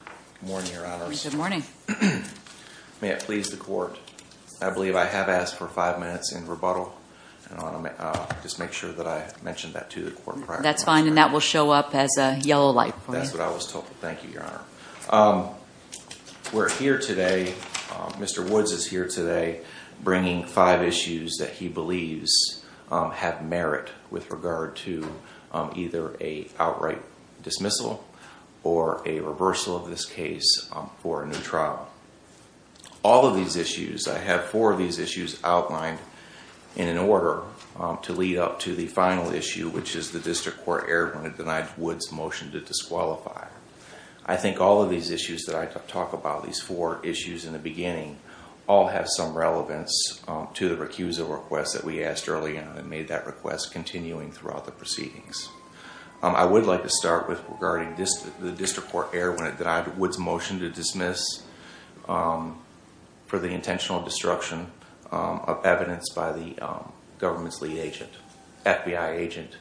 Good morning, your honors. Good morning. May it please the court, I believe I have asked for five minutes in rebuttal and I want to just make sure that I mentioned that to the court prior. That's fine and that will show up as a yellow light for you. That's what I was told. Thank you, your honor. We're here today, Mr. Woods is here today bringing five issues that he believes have merit with regard to either a outright dismissal or a reversal of this case for a new trial. All of these issues, I have four of these issues outlined in an order to lead up to the final issue, which is the district court erred when it denied Woods' motion to disqualify. I think all of these issues that I talk about, these four issues in the beginning, all have some relevance to the recusal request that we asked earlier and made that request continuing throughout the proceedings. I would like to start with regarding the district court error when it denied Woods' motion to dismiss for the intentional destruction of evidence by the government's lead agent, FBI agent,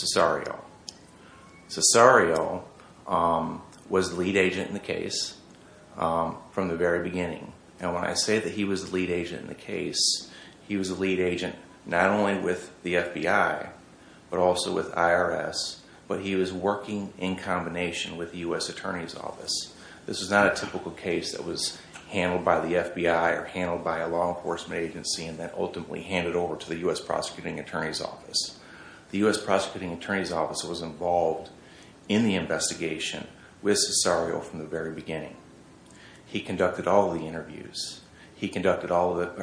Cesario. Cesario was the lead agent in the case from the very beginning and when I say that he was the lead agent in the case, he was the lead agent not only with the FBI, but also with IRS, but he was working in combination with the U.S. Attorney's Office. This was not a typical case that was handled by the FBI or handled by a law enforcement agency and then ultimately handed over to the U.S. Prosecuting Attorney's Office. The U.S. Prosecuting Attorney's Office was involved in the investigation with Cesario from the very beginning. He conducted all of the interviews. He prepared all of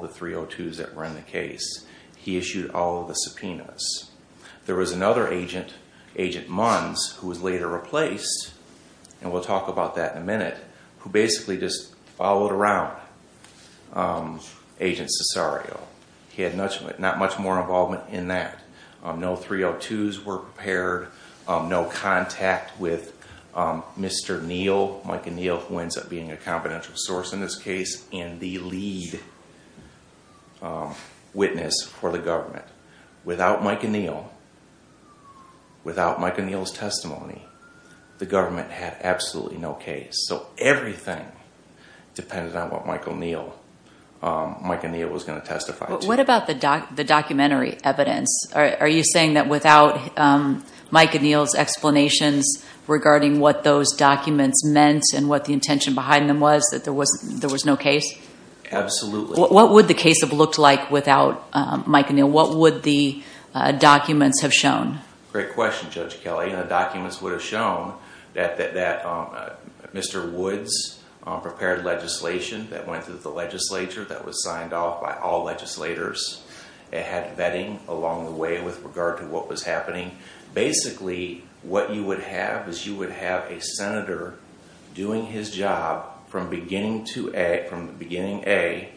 the 302s that were in the case. He issued all of the subpoenas. There was another agent, Agent Munns, who was later replaced, and we'll talk about that in a minute, who basically just followed around Agent Cesario. He had not much more involvement in that. No 302s were prepared, no contact with Mr. Neal, Mike Neal, who ends up being a confidential source in this case, and the lead witness for the government. Without Mike and Neal, without Mike and Neal's testimony, the government had absolutely no case. So everything depended on what Mike and Neal was going to testify to. What about the documentary evidence? Are you saying that without Mike and Neal's explanations regarding what those documents meant and what the intention behind them was that there was no case? Absolutely. What would the case have looked like without Mike and Neal? What would the documents have shown? Great question, Judge Kelley. The documents would have shown that Mr. Woods prepared legislation that went through the legislature that was signed off by all legislators. It had vetting along the way with regard to what was happening. Basically, what you would have is you would have a senator doing his job from beginning A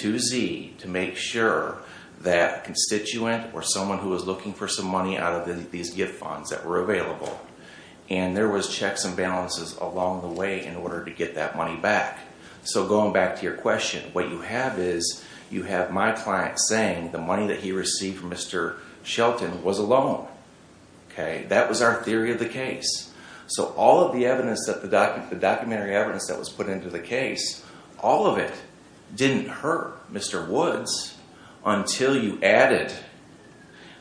to Z to make sure that a constituent or someone who was looking for some money out of these gift funds that were available. And there was checks and balances along the way in order to get that money back. So going back to your question, what you have is you have my client saying the money that he received from Mr. Shelton was a loan. That was our theory of the case. So all of the documentary evidence that was put into the case, all of it didn't hurt Mr. Woods until you added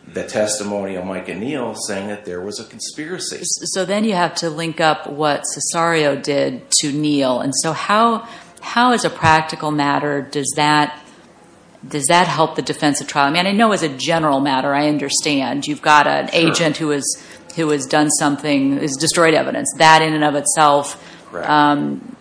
the testimony of Mike and Neal saying that there was a conspiracy. So then you have to link up what Cesario did to Neal. And so how, as a practical matter, does that help the defense of trial? I mean, I know as a general matter, I understand you've got an agent who has done something, has destroyed evidence. That in and of itself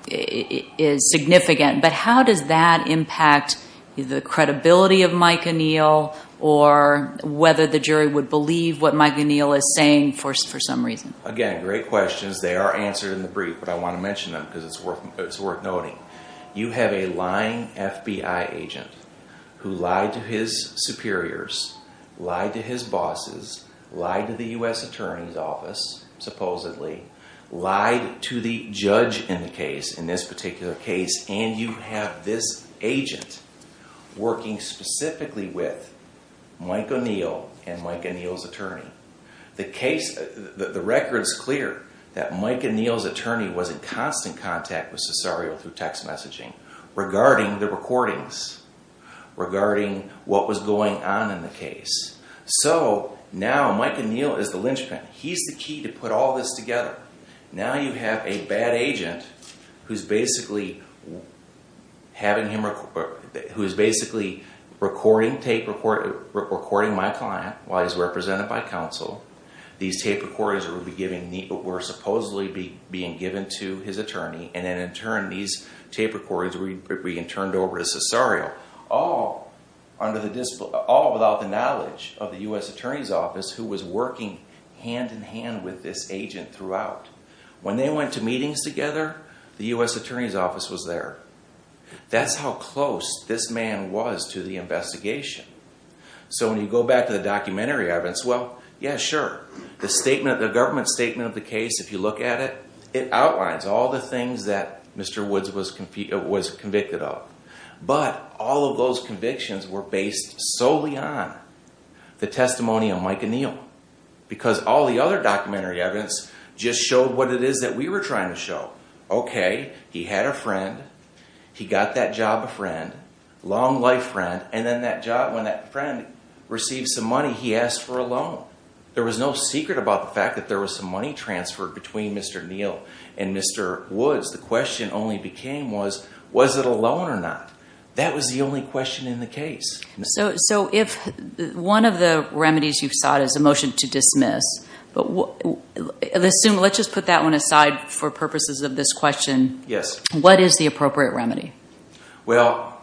is significant. But how does that impact the credibility of Mike and Neal or whether the jury would believe what Mike and Neal is saying for some reason? Again, great questions. They are answered in the brief, but I want to mention them because it's worth noting. You have a lying FBI agent who lied to his superiors, lied to his bosses, lied to the U.S. Attorney's Office, supposedly, lied to the judge in the case, in this particular case. And you have this agent working specifically with Mike and Neal and Mike and Neal's attorney. The case, the record is clear that Mike and Neal's attorney was in constant contact with Cesario through text messaging regarding the recordings, regarding what was going on in the case. So now Mike and Neal is the linchpin. He's the key to put all this together. Now you have a bad agent who's basically recording my client while he's represented by counsel. These tape recordings were supposedly being given to his attorney and then in turn these tape recordings were being turned over to Cesario. All without the knowledge of the U.S. Attorney's Office who was working hand-in-hand with this agent throughout. When they went to meetings together, the U.S. Attorney's Office was there. That's how close this man was to the investigation. So when you go back to the documentary evidence, well, yeah, sure. The government statement of the case, if you look at it, it outlines all the things that Mr. Woods was convicted of. But all of those convictions were based solely on the testimony of Mike and Neal. Because all the other documentary evidence just showed what it is that we were trying to show. Okay, he had a friend, he got that job a friend, long life friend, and then when that friend received some money he asked for a loan. There was no secret about the fact that there was some money transferred between Mr. Neal and Mr. Woods. The question only became was, was it a loan or not? That was the only question in the case. So if one of the remedies you've sought is a motion to dismiss, let's just put that one aside for purposes of this question. Yes. What is the appropriate remedy? Well,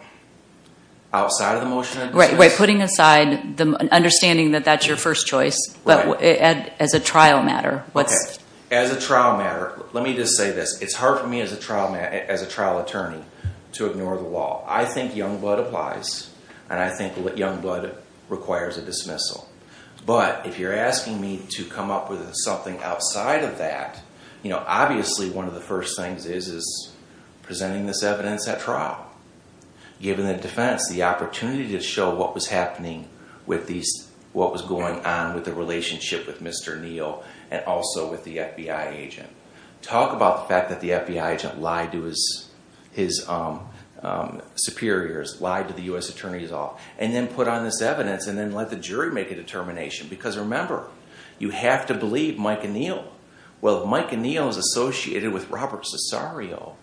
outside of the motion of dismissal? Right, putting aside, understanding that that's your first choice, but as a trial matter. As a trial matter, let me just say this, it's hard for me as a trial attorney to ignore the law. I think young blood applies, and I think young blood requires a dismissal. But if you're asking me to come up with something outside of that, obviously one of the first things is presenting this evidence at trial. Giving the defense the opportunity to show what was happening with these, what was going on with the relationship with Mr. Neal and also with the FBI agent. Talk about the fact that the FBI agent lied to his superiors, lied to the U.S. attorneys all, and then put on this evidence and then let the jury make a determination. Because remember, you have to believe Mike and Neal. Well, Mike and Neal is associated with Robert Cesario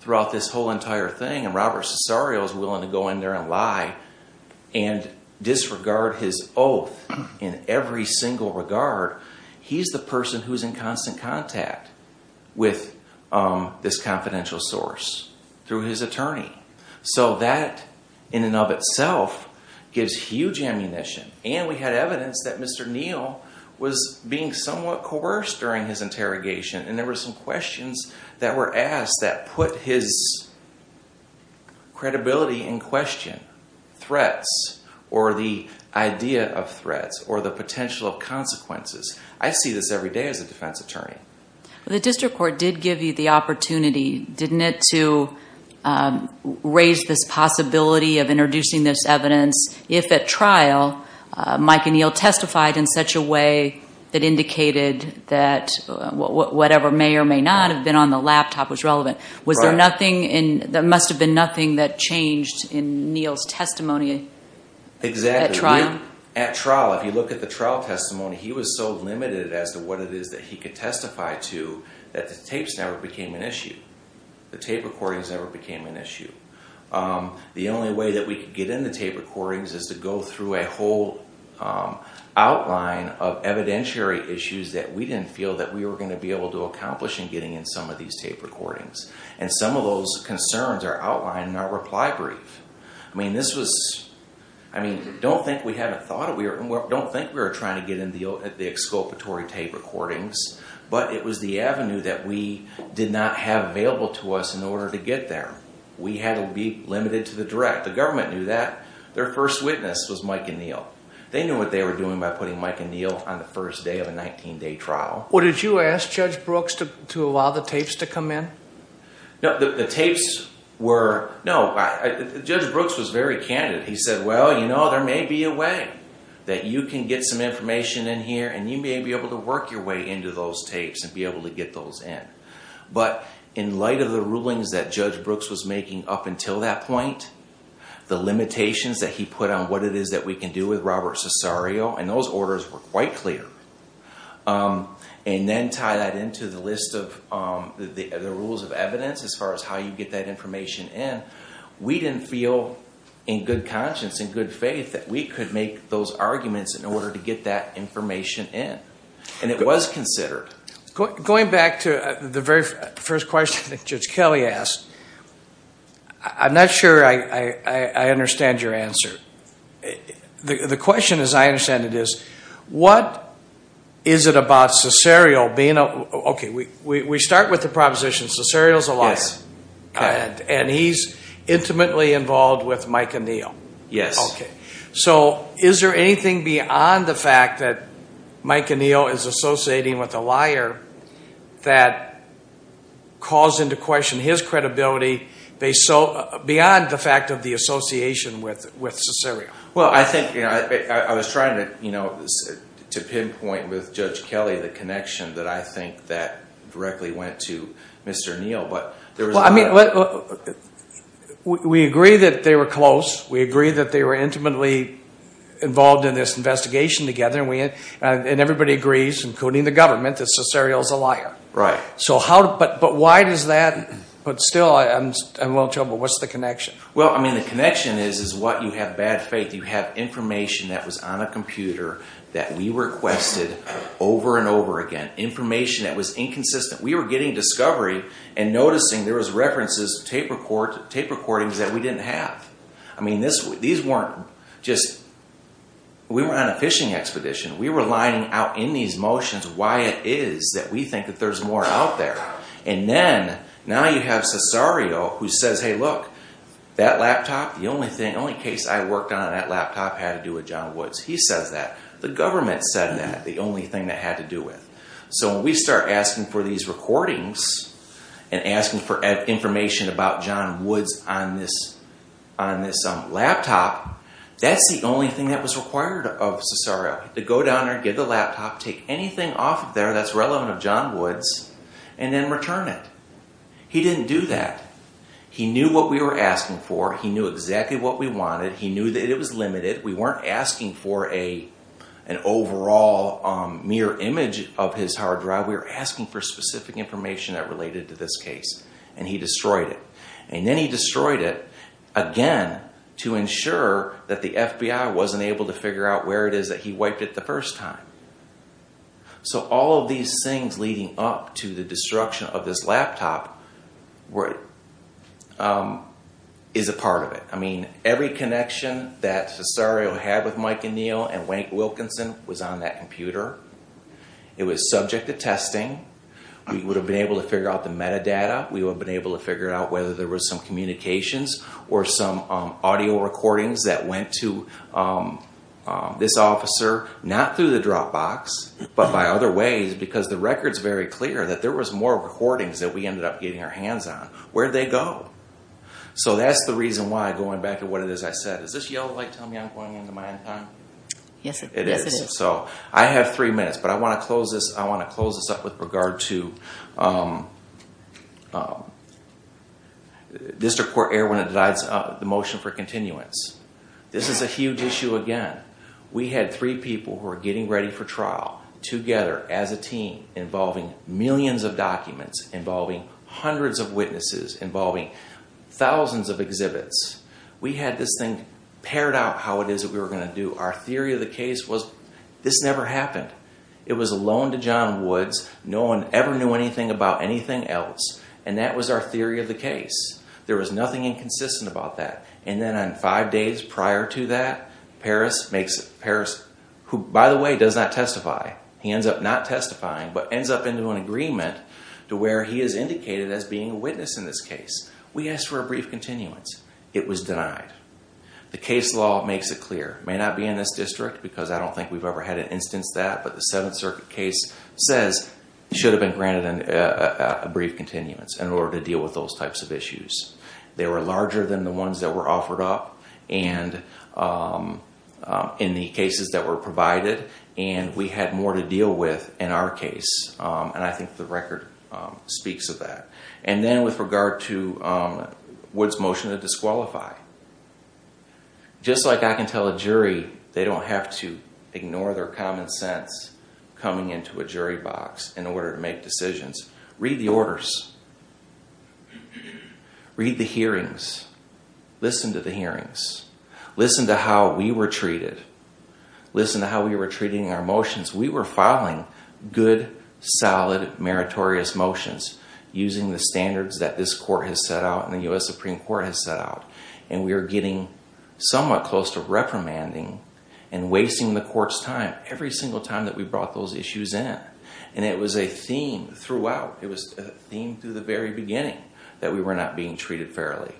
throughout this whole entire thing, and Robert Cesario is willing to go in there and lie and disregard his oath in every single regard. He's the person who's in constant contact with this confidential source through his attorney. So that, in and of itself, gives huge ammunition. And we had evidence that Mr. Neal was being somewhat coerced during his interrogation, and there were some questions that were asked that put his credibility in question. Threats, or the idea of threats, or the potential of consequences. I see this every day as a defense attorney. The district court did give you the opportunity, didn't it, to raise this possibility of introducing this evidence if, at trial, Mike and Neal testified in such a way that indicated that whatever may or may not have been on the laptop was relevant. Was there nothing, there must have been nothing that changed in Neal's testimony at trial? At trial, if you look at the trial testimony, he was so limited as to what it is that he could testify to that the tapes never became an issue. The tape recordings never became an issue. The only way that we could get in the tape recordings is to go through a whole outline of evidentiary issues that we didn't feel that we were going to be able to accomplish in getting in some of these tape recordings. And some of those concerns are outlined in our reply brief. Don't think we were trying to get in the exculpatory tape recordings, but it was the avenue that we did not have available to us in order to get there. We had to be limited to the direct. The government knew that. Their first witness was Mike and Neal. They knew what they were doing by putting Mike and Neal on the first day of a 19-day trial. Did you ask Judge Brooks to allow the tapes to come in? No, Judge Brooks was very candid. He said, well, you know, there may be a way that you can get some information in here, and you may be able to work your way into those tapes and be able to get those in. But in light of the rulings that Judge Brooks was making up until that point, the limitations that he put on what it is that we can do with Robert Cesario, and those orders were quite clear. And then tie that into the list of the rules of evidence as far as how you get that information in. We didn't feel in good conscience, in good faith, that we could make those arguments in order to get that information in. And it was considered. Going back to the very first question that Judge Kelly asked, I'm not sure I understand your answer. The question, as I understand it, is what is it about Cesario being a – okay, we start with the proposition, Cesario's a liar. Yes. And he's intimately involved with Mike and Neal. Yes. Okay. So is there anything beyond the fact that Mike and Neal is associating with a liar that calls into question his credibility beyond the fact of the association with Cesario? Well, I think – I was trying to pinpoint with Judge Kelly the connection that I think that directly went to Mr. Neal. Well, I mean, we agree that they were close. We agree that they were intimately involved in this investigation together, and everybody agrees, including the government, that Cesario's a liar. Right. So how – but why does that – but still, I'm a little troubled. What's the connection? Well, I mean, the connection is what? You have bad faith. You have information that was on a computer that we requested over and over again, information that was inconsistent. We were getting discovery and noticing there was references to tape recordings that we didn't have. I mean, these weren't just – we weren't on a fishing expedition. We were lining out in these motions why it is that we think that there's more out there. And then, now you have Cesario who says, hey, look, that laptop, the only case I worked on on that laptop had to do with John Woods. He says that. The government said that, the only thing that had to do with it. So when we start asking for these recordings and asking for information about John Woods on this laptop, that's the only thing that was required of Cesario, to go down there and get the laptop, take anything off of there that's relevant of John Woods, and then return it. He didn't do that. He knew what we were asking for. He knew exactly what we wanted. He knew that it was limited. We weren't asking for an overall mirror image of his hard drive. We were asking for specific information that related to this case, and he destroyed it. And then he destroyed it, again, to ensure that the FBI wasn't able to figure out where it is that he wiped it the first time. So all of these things leading up to the destruction of this laptop is a part of it. I mean, every connection that Cesario had with Mike O'Neill and Wayne Wilkinson was on that computer. It was subject to testing. We would have been able to figure out the metadata. We would have been able to figure out whether there was some communications or some audio recordings that went to this officer, not through the Dropbox, but by other ways because the record's very clear that there was more recordings that we ended up getting our hands on. Where'd they go? So that's the reason why, going back to what it is I said, is this yellow light telling me I'm going into my end time? Yes, it is. It is. So I have three minutes, but I want to close this up with regard to District Court Erwin and the motion for continuance. This is a huge issue again. We had three people who were getting ready for trial together as a team involving millions of documents, involving hundreds of witnesses, involving thousands of exhibits. We had this thing pared out how it is that we were going to do. Our theory of the case was this never happened. It was a loan to John Woods. No one ever knew anything about anything else, and that was our theory of the case. There was nothing inconsistent about that, and then on five days prior to that, who, by the way, does not testify. He ends up not testifying but ends up into an agreement to where he is indicated as being a witness in this case. We asked for a brief continuance. It was denied. The case law makes it clear. It may not be in this district because I don't think we've ever had an instance of that, but the Seventh Circuit case says it should have been granted a brief continuance in order to deal with those types of issues. They were larger than the ones that were offered up in the cases that were provided, and we had more to deal with in our case, and I think the record speaks of that. And then with regard to Woods' motion to disqualify, just like I can tell a jury, they don't have to ignore their common sense coming into a jury box in order to make decisions. Read the orders. Read the hearings. Listen to the hearings. Listen to how we were treated. Listen to how we were treating our motions. We were filing good, solid, meritorious motions using the standards that this court has set out and the U.S. Supreme Court has set out, and we are getting somewhat close to reprimanding and wasting the court's time every single time that we brought those issues in. And it was a theme throughout. It was a theme through the very beginning that we were not being treated fairly.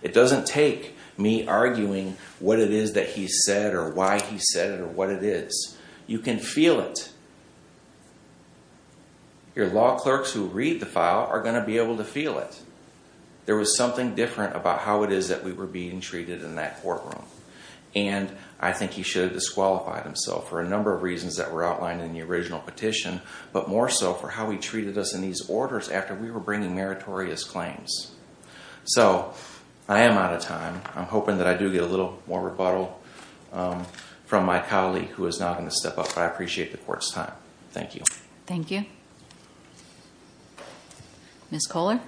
It doesn't take me arguing what it is that he said or why he said it or what it is. You can feel it. Your law clerks who read the file are going to be able to feel it. There was something different about how it is that we were being treated in that courtroom, and I think he should have disqualified himself for a number of reasons that were outlined in the original petition, but more so for how he treated us in these orders after we were bringing meritorious claims. So I am out of time. I'm hoping that I do get a little more rebuttal from my colleague who is now going to step up, but I appreciate the court's time. Thank you. Thank you. Ms. Kohler?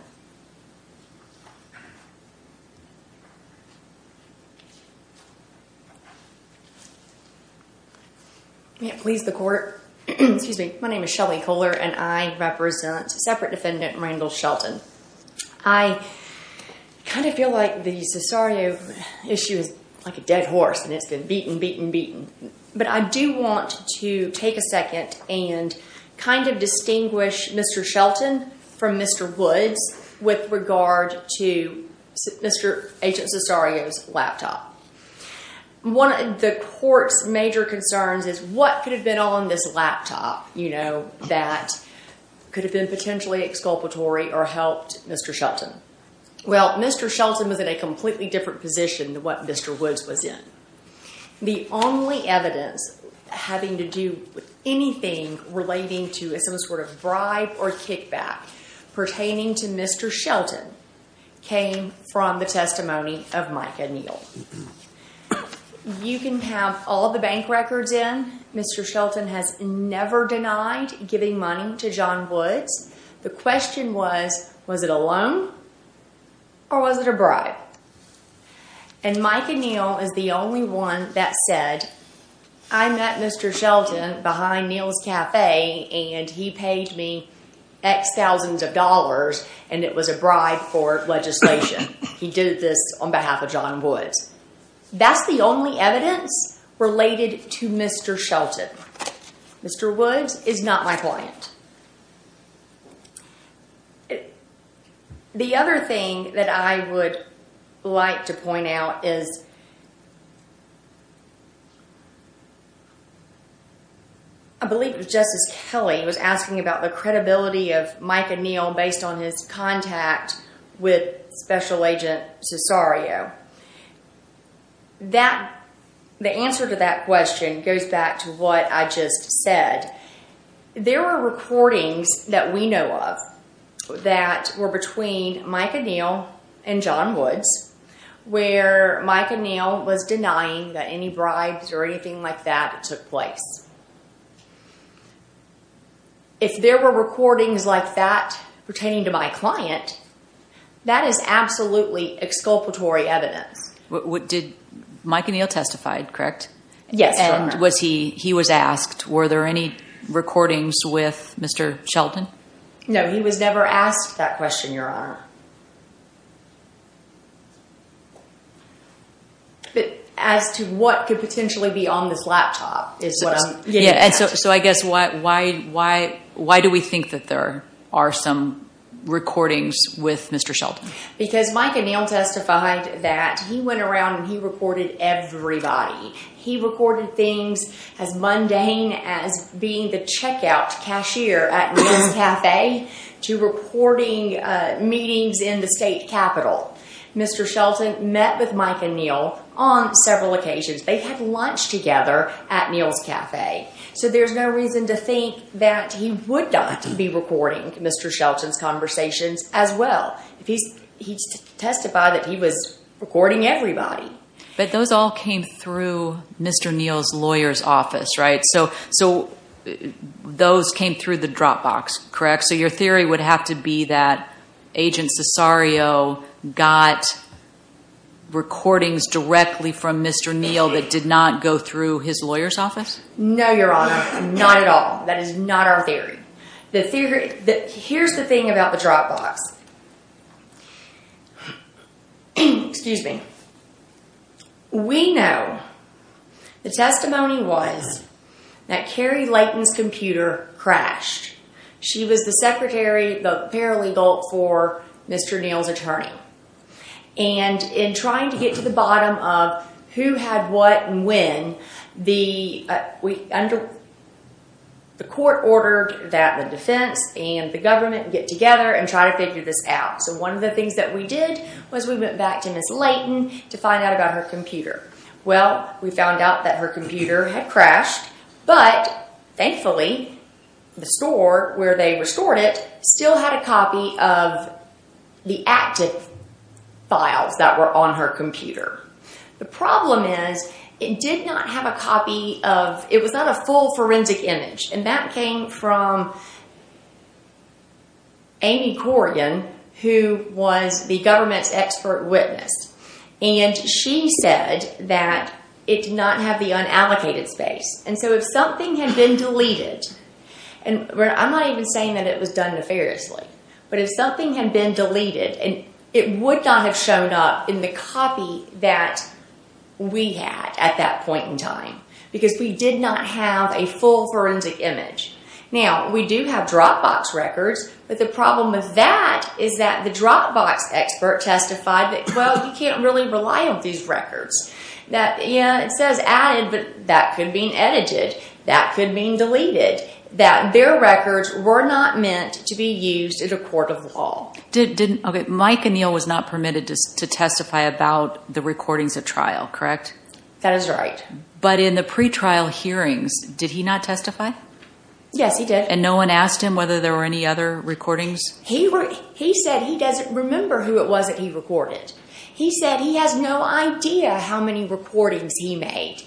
May it please the court. Excuse me. My name is Shelley Kohler, and I represent separate defendant Randall Shelton. I kind of feel like the Cesario issue is like a dead horse, and it's been beaten, beaten, beaten. But I do want to take a second and kind of distinguish Mr. Shelton from Mr. Woods with regard to Agent Cesario's laptop. One of the court's major concerns is what could have been on this laptop, you know, that could have been potentially exculpatory or helped Mr. Shelton. Well, Mr. Shelton was in a completely different position than what Mr. Woods was in. The only evidence having to do with anything relating to some sort of bribe or kickback pertaining to Mr. Shelton came from the testimony of Micah Neal. You can have all the bank records in. Mr. Shelton has never denied giving money to John Woods. The question was, was it a loan or was it a bribe? And Micah Neal is the only one that said, I met Mr. Shelton behind Neal's Cafe, and he paid me X thousands of dollars, and it was a bribe for legislation. He did this on behalf of John Woods. That's the only evidence related to Mr. Shelton. Mr. Woods is not my client. The other thing that I would like to point out is, I believe it was Justice Kelly was asking about the credibility of Micah Neal based on his contact with Special Agent Cesario. The answer to that question goes back to what I just said. There were recordings that we know of that were between Micah Neal and John Woods where Micah Neal was denying that any bribes or anything like that took place. If there were recordings like that pertaining to my client, that is absolutely exculpatory evidence. Did Micah Neal testify, correct? Yes. He was asked, were there any recordings with Mr. Shelton? No, he was never asked that question, Your Honor. As to what could potentially be on this laptop is what I'm getting at. So I guess why do we think that there are some recordings with Mr. Shelton? Because Micah Neal testified that he went around and he recorded everybody. He recorded things as mundane as being the checkout cashier at Neal's Cafe to recording meetings in the state capitol. Mr. Shelton met with Micah Neal on several occasions. They had lunch together at Neal's Cafe. So there's no reason to think that he would not be recording Mr. Shelton's conversations as well. He testified that he was recording everybody. But those all came through Mr. Neal's lawyer's office, right? So those came through the Dropbox, correct? So your theory would have to be that Agent Cesario got recordings directly from Mr. Neal that did not go through his lawyer's office? No, Your Honor, not at all. That is not our theory. Here's the thing about the Dropbox. Excuse me. We know the testimony was that Carrie Layton's computer crashed. She was the secretary, the paralegal for Mr. Neal's attorney. And in trying to get to the bottom of who had what and when, the court ordered that the defense and the government get together and try to figure this out. So one of the things that we did was we went back to Ms. Layton to find out about her computer. Well, we found out that her computer had crashed, but thankfully the store where they restored it still had a copy of the active files that were on her computer. The problem is it did not have a copy of, it was not a full forensic image. And that came from Amy Corrigan, who was the government's expert witness. And she said that it did not have the unallocated space. And so if something had been deleted, and I'm not even saying that it was done nefariously, but if something had been deleted, it would not have shown up in the copy that we had at that point in time. Because we did not have a full forensic image. Now, we do have Dropbox records, but the problem with that is that the Dropbox expert testified that, well, you can't really rely on these records. Yeah, it says added, but that could mean edited. That could mean deleted. That their records were not meant to be used in a court of law. Okay, Mike and Neal was not permitted to testify about the recordings at trial, correct? That is right. But in the pretrial hearings, did he not testify? Yes, he did. And no one asked him whether there were any other recordings? He said he doesn't remember who it was that he recorded. He said he has no idea how many recordings he made.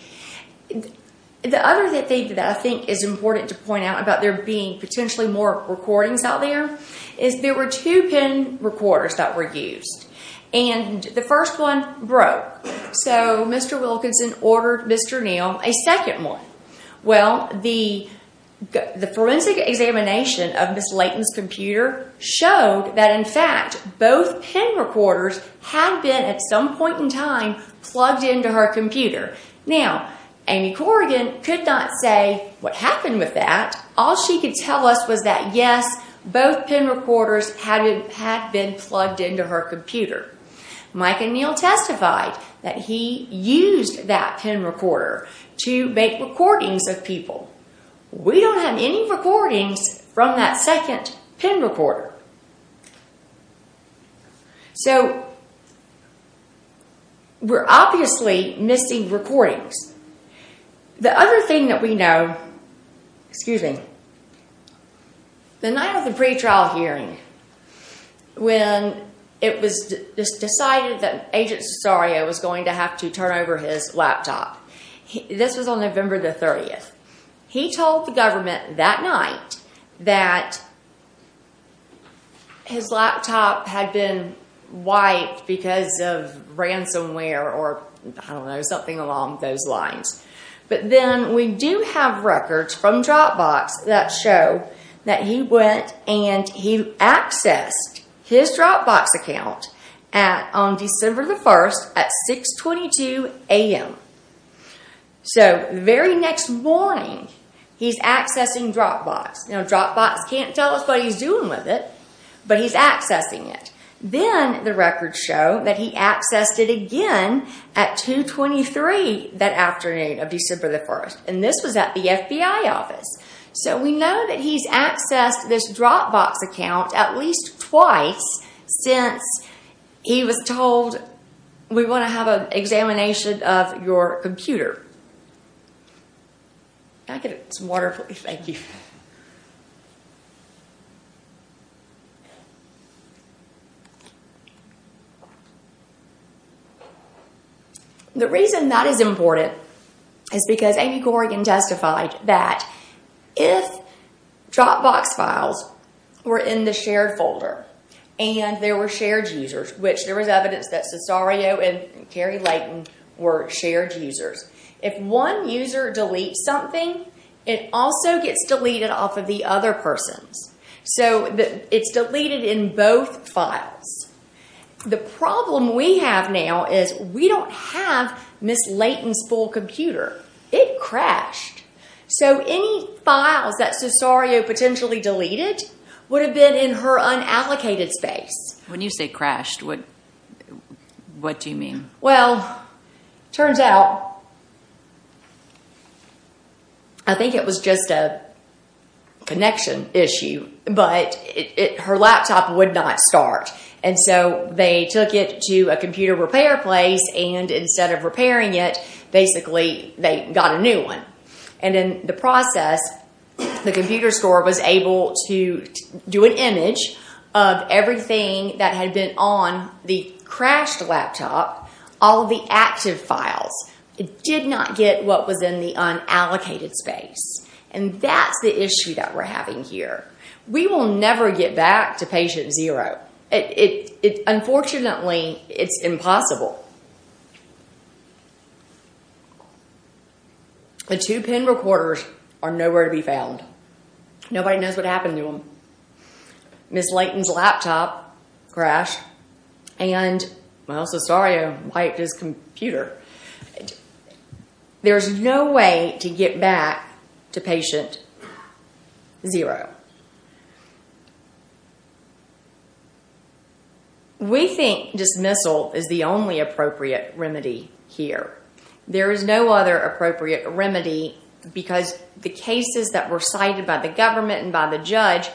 The other thing that I think is important to point out about there being potentially more recordings out there is there were two PIN recorders that were used. And the first one broke. So Mr. Wilkinson ordered Mr. Neal a second one. Well, the forensic examination of Ms. Layton's computer showed that, in fact, both PIN recorders had been, at some point in time, plugged into her computer. Now, Amy Corrigan could not say what happened with that. All she could tell us was that, yes, both PIN recorders had been plugged into her computer. Mike and Neal testified that he used that PIN recorder to make recordings of people. We don't have any recordings from that second PIN recorder. So we're obviously missing recordings. The other thing that we know, the night of the pretrial hearing, when it was decided that Agent Cesario was going to have to turn over his laptop, this was on November the 30th, he told the government that night that his laptop had been wiped because of ransomware or something along those lines. But then we do have records from Dropbox that show that he went and he accessed his Dropbox account on December the 1st at 6.22 a.m. So the very next morning, he's accessing Dropbox. Now, Dropbox can't tell us what he's doing with it, but he's accessing it. Then the records show that he accessed it again at 2.23 that afternoon of December the 1st, and this was at the FBI office. So we know that he's accessed this Dropbox account at least twice since he was told, we want to have an examination of your computer. Can I get some water, please? Thank you. The reason that is important is because Amy Corrigan testified that if Dropbox files were in the shared folder and there were shared users, which there was evidence that Cesario and Kerry Layton were shared users, if one user deletes something, it also gets deleted off of the other person's. So it's deleted in both files. The problem we have now is we don't have Ms. Layton's full computer. It crashed. So any files that Cesario potentially deleted would have been in her unallocated space. When you say crashed, what do you mean? Well, it turns out, I think it was just a connection issue, but her laptop would not start. And so they took it to a computer repair place, and instead of repairing it, basically they got a new one. And in the process, the computer store was able to do an image of everything that had been on the crashed laptop, all the active files. It did not get what was in the unallocated space. And that's the issue that we're having here. We will never get back to patient zero. Unfortunately, it's impossible. The two PIN recorders are nowhere to be found. Nobody knows what happened to them. Ms. Layton's laptop crashed, and Cesario wiped his computer. There's no way to get back to patient zero. We think dismissal is the only appropriate remedy here. There is no other appropriate remedy because the cases that were cited by the government and by the judge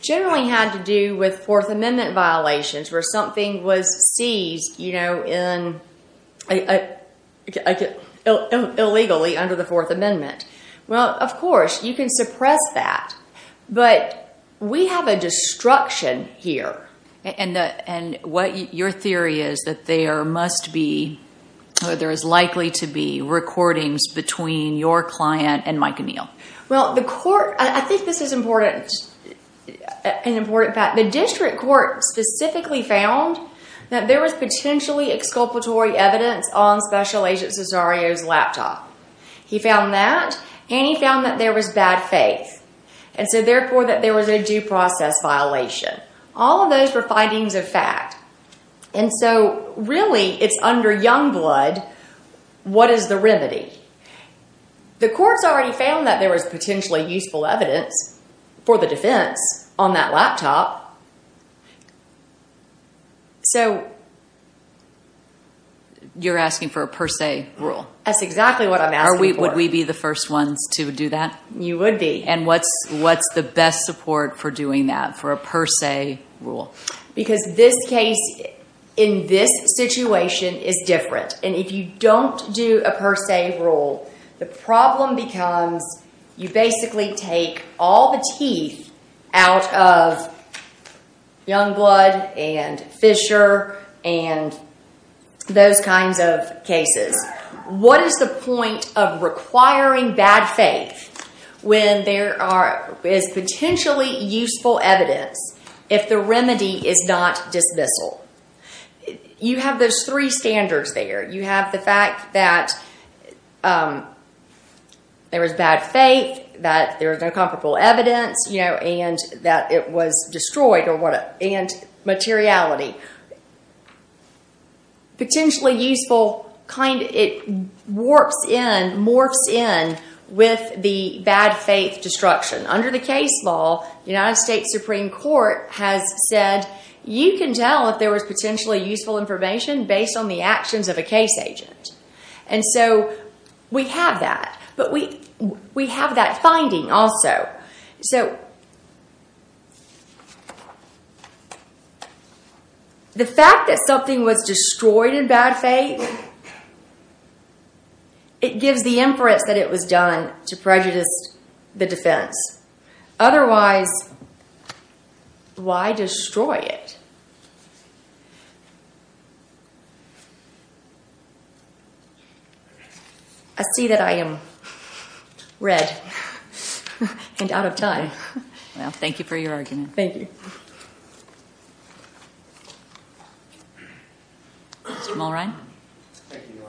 generally had to do with Fourth Amendment violations, where something was seized illegally under the Fourth Amendment. Well, of course, you can suppress that. But we have a destruction here. And your theory is that there must be, or there is likely to be recordings between your client and Mike O'Neill. Well, I think this is an important fact. The district court specifically found that there was potentially exculpatory evidence on Special Agent Cesario's laptop. He found that, and he found that there was bad faith. And so, therefore, that there was a due process violation. All of those were findings of fact. And so, really, it's under young blood. What is the remedy? The courts already found that there was potentially useful evidence for the defense on that laptop. You're asking for a per se rule. That's exactly what I'm asking for. Would we be the first ones to do that? You would be. And what's the best support for doing that, for a per se rule? Because this case, in this situation, is different. And if you don't do a per se rule, the problem becomes you basically take all the teeth out of young blood and Fisher and those kinds of cases. What is the point of requiring bad faith when there is potentially useful evidence if the remedy is not dismissal? You have those three standards there. You have the fact that there was bad faith, that there was no comparable evidence, and that it was destroyed, and materiality. Potentially useful morphs in with the bad faith destruction. Under the case law, the United States Supreme Court has said, you can tell if there was potentially useful information based on the actions of a case agent. And so we have that. But we have that finding also. The fact that something was destroyed in bad faith, it gives the inference that it was done to prejudice the defense. Otherwise, why destroy it? I see that I am red and out of time. Well, thank you for your argument. Thank you. Mr. Mulrine? Thank you, Your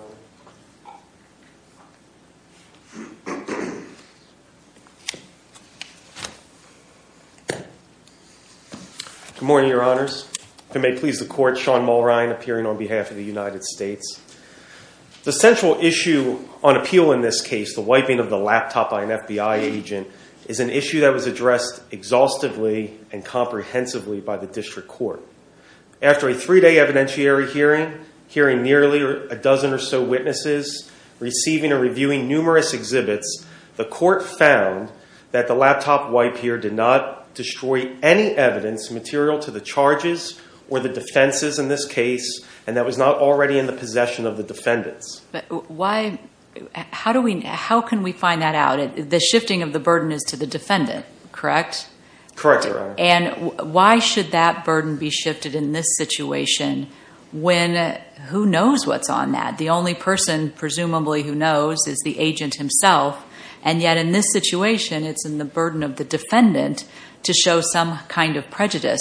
Honor. Good morning, Your Honors. If it may please the Court, Sean Mulrine, appearing on behalf of the United States. The central issue on appeal in this case, the wiping of the laptop by an FBI agent, is an issue that was addressed exhaustively and comprehensively by the district court. After a three-day evidentiary hearing, hearing nearly a dozen or so witnesses, receiving and reviewing numerous exhibits, the court found that the laptop wipe here did not destroy any evidence material to the charges or the defenses in this case, and that was not already in the possession of the defendants. How can we find that out? The shifting of the burden is to the defendant, correct? Correct, Your Honor. And why should that burden be shifted in this situation when who knows what's on that? The only person, presumably, who knows is the agent himself, and yet in this situation, it's in the burden of the defendant to show some kind of prejudice.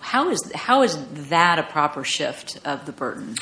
How is that a proper shift of the burden?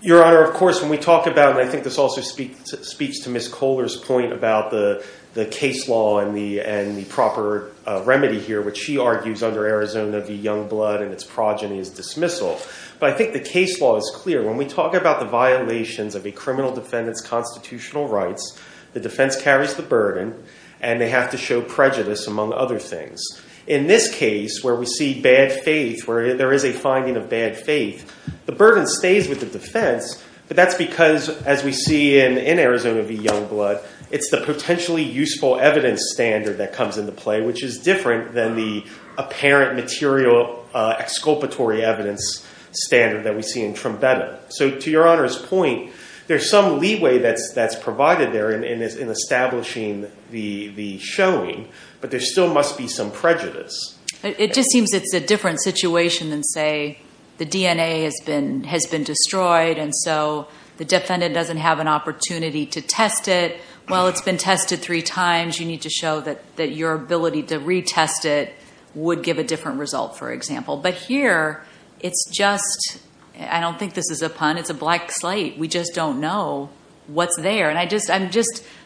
Your Honor, of course, when we talk about, and I think this also speaks to Ms. Kohler's point about the case law and the proper remedy here, which she argues under Arizona v. Youngblood and its progeny is dismissal, but I think the case law is clear. When we talk about the violations of a criminal defendant's constitutional rights, the defense carries the burden, and they have to show prejudice, among other things. In this case, where we see bad faith, where there is a finding of bad faith, the burden stays with the defense, but that's because, as we see in Arizona v. Youngblood, it's the potentially useful evidence standard that comes into play, which is different than the apparent material exculpatory evidence standard that we see in Trumbetta. So to Your Honor's point, there's some leeway that's provided there in establishing the showing, but there still must be some prejudice. It just seems it's a different situation than, say, the DNA has been destroyed, and so the defendant doesn't have an opportunity to test it. Well, it's been tested three times. You need to show that your ability to retest it would give a different result, for example. But here, it's just... I don't think this is a pun. It's a black slate. We just don't know what's there, and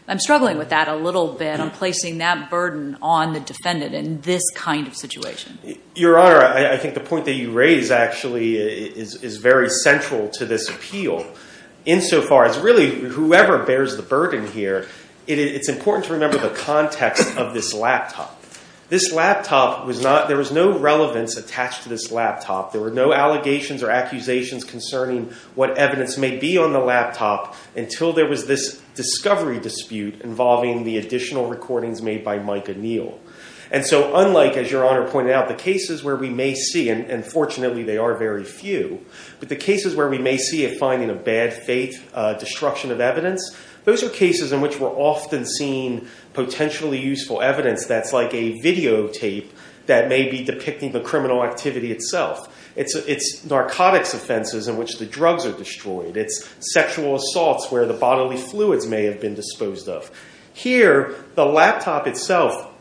I'm struggling with that a little bit, on placing that burden on the defendant in this kind of situation. Your Honor, I think the point that you raise, actually, is very central to this appeal, insofar as, really, whoever bears the burden here, it's important to remember the context of this laptop. This laptop was not... There was no relevance attached to this laptop. There were no allegations or accusations concerning what evidence may be on the laptop until there was this discovery dispute involving the additional recordings made by Mike O'Neill. And so unlike, as Your Honor pointed out, the cases where we may see, and fortunately, they are very few, but the cases where we may see a finding of bad faith, destruction of evidence, those are cases in which we're often seeing potentially useful evidence that's like a videotape that may be depicting the criminal activity itself. It's narcotics offenses in which the drugs are destroyed. It's sexual assaults where the bodily fluids may have been disposed of. Here, the laptop itself,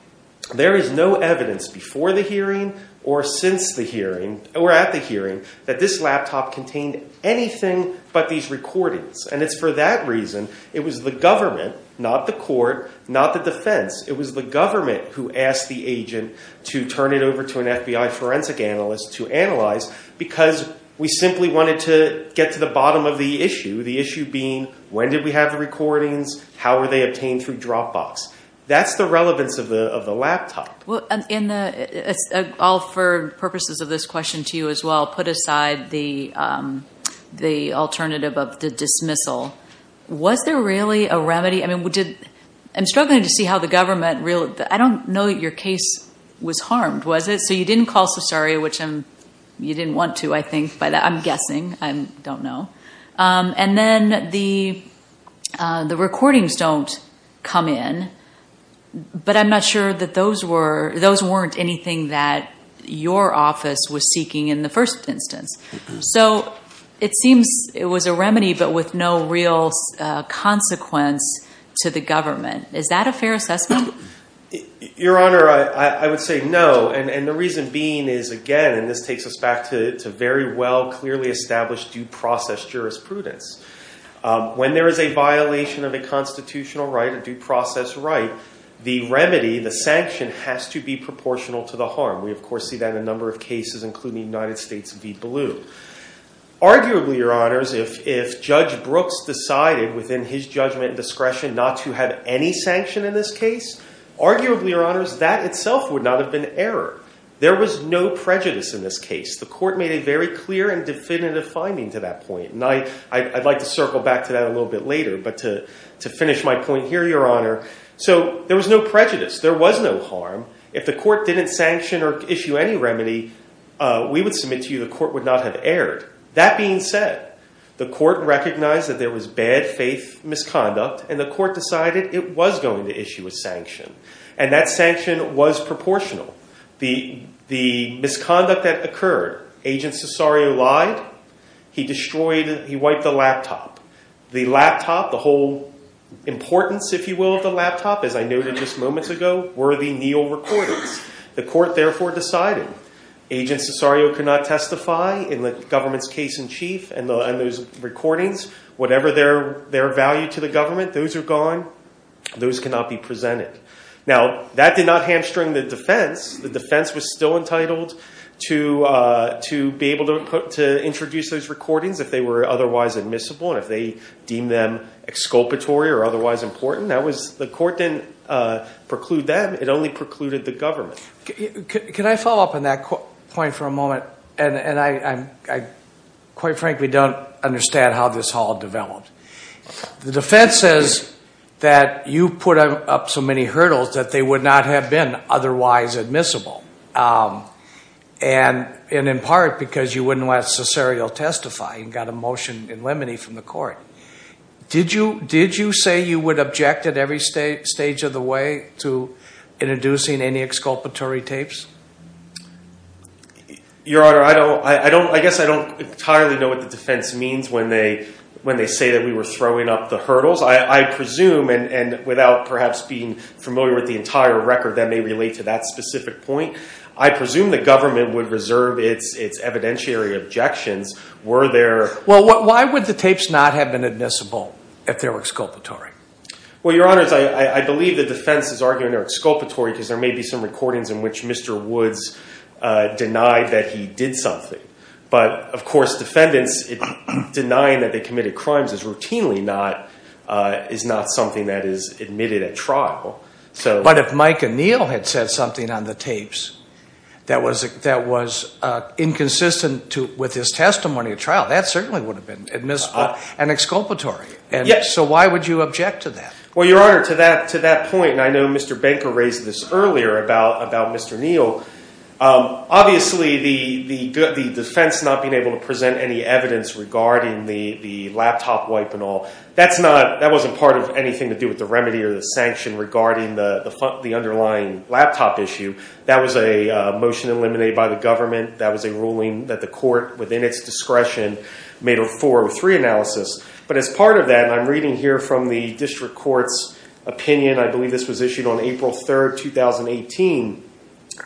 there is no evidence before the hearing or since the hearing, or at the hearing, that this laptop contained anything but these recordings. And it's for that reason it was the government, not the court, not the defense, it was the government who asked the agent to turn it over to an FBI forensic analyst to analyze because we simply wanted to get to the bottom of the issue, the issue being when did we have the recordings, how were they obtained through Dropbox. That's the relevance of the laptop. All for purposes of this question to you as well, put aside the alternative of the dismissal. Was there really a remedy? I'm struggling to see how the government really... I don't know that your case was harmed, was it? So you didn't call Cesare, which you didn't want to, I think. I'm guessing. I don't know. And then the recordings don't come in, but I'm not sure that those weren't anything that your office was seeking in the first instance. So it seems it was a remedy, but with no real consequence to the government. Is that a fair assessment? Your Honor, I would say no. And the reason being is, again, and this takes us back to very well, clearly established due process jurisprudence. When there is a violation of a constitutional right, the remedy, the sanction, has to be proportional to the harm. We, of course, see that in a number of cases, including United States v. Blue. Arguably, Your Honors, if Judge Brooks decided within his judgment and discretion not to have any sanction in this case, arguably, Your Honors, that itself would not have been error. There was no prejudice in this case. The court made a very clear and definitive finding to that point. And I'd like to circle back to that a little bit later, but to finish my point here, Your Honor. So there was no prejudice. There was no harm. If the court didn't sanction or issue any remedy, we would submit to you the court would not have erred. That being said, the court recognized that there was bad faith misconduct, and the court decided it was going to issue a sanction. And that sanction was proportional. The misconduct that occurred, Agent Cesario lied. He destroyed, he wiped the laptop. The laptop, the whole importance, if you will, of the laptop, as I noted just moments ago, were the Neal recordings. The court, therefore, decided Agent Cesario could not testify in the government's case-in-chief and those recordings. Whatever their value to the government, those are gone. Those cannot be presented. Now, that did not hamstring the defense. The defense was still entitled to be able to introduce those recordings if they were otherwise admissible and if they deemed them exculpatory or otherwise important. The court didn't preclude them. It only precluded the government. Can I follow up on that point for a moment? And I quite frankly don't understand how this all developed. The defense says that you put up so many hurdles that they would not have been otherwise admissible. And in part because you wouldn't let Cesario testify. You got a motion in limine from the court. Did you say you would object at every stage of the way to introducing any exculpatory tapes? Your Honor, I guess I don't entirely know what the defense means when they say that we were throwing up the hurdles. I presume, and without perhaps being familiar with the entire record that may relate to that specific point, I presume the government would reserve its evidentiary objections were there... Well, why would the tapes not have been admissible if they were exculpatory? Well, Your Honor, I believe the defense is arguing they're exculpatory because there may be some recordings in which Mr. Woods denied that he did something. But, of course, defendants denying that they committed crimes is routinely not something that is admitted at trial. But if Mike O'Neill had said something on the tapes that was inconsistent with his testimony at trial, that certainly would have been admissible and exculpatory. So why would you object to that? Well, Your Honor, to that point, and I know Mr. Banker raised this earlier about Mr. O'Neill, obviously the defense not being able to present any evidence regarding the laptop wipe and all, that wasn't part of anything to do with the remedy or the sanction regarding the underlying laptop issue. That was a motion eliminated by the government. That was a ruling that the court, within its discretion, made a 403 analysis. But as part of that, and I'm reading here from the district court's opinion, I believe this was issued on April 3, 2018,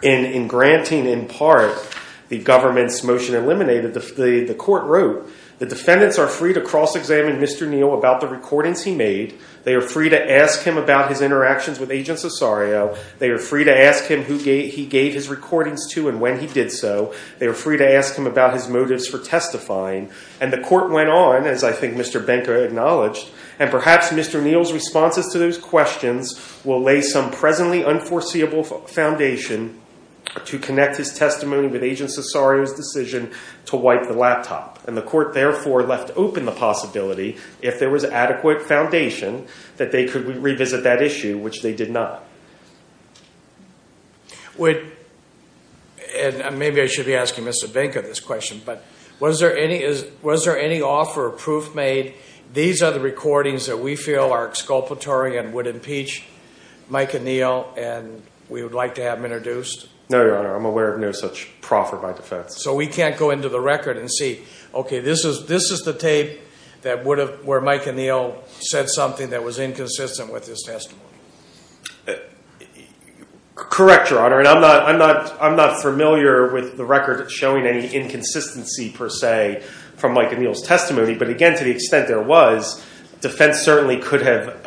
in granting in part the government's motion to eliminate it, the court wrote, the defendants are free to cross-examine Mr. O'Neill about the recordings he made. They are free to ask him about his interactions with Agent Cesario. They are free to ask him who he gave his recordings to and when he did so. They are free to ask him about his motives for testifying. And the court went on, as I think Mr. Banker acknowledged, and perhaps Mr. O'Neill's responses to those questions will lay some presently unforeseeable foundation to connect his testimony with Agent Cesario's decision to wipe the laptop. And the court, therefore, left open the possibility, if there was adequate foundation, that they could revisit that issue, which they did not. And maybe I should be asking Mr. Banker this question, but was there any offer or proof made, these are the recordings that we feel are exculpatory and would impeach Mike O'Neill, and we would like to have them introduced? No, Your Honor, I'm aware of no such proffer by defense. So we can't go into the record and see, okay, this is the tape where Mike O'Neill said something that was inconsistent with his testimony. Correct, Your Honor, and I'm not familiar with the record showing any inconsistency, per se, from Mike O'Neill's testimony. But again, to the extent there was, defense certainly could have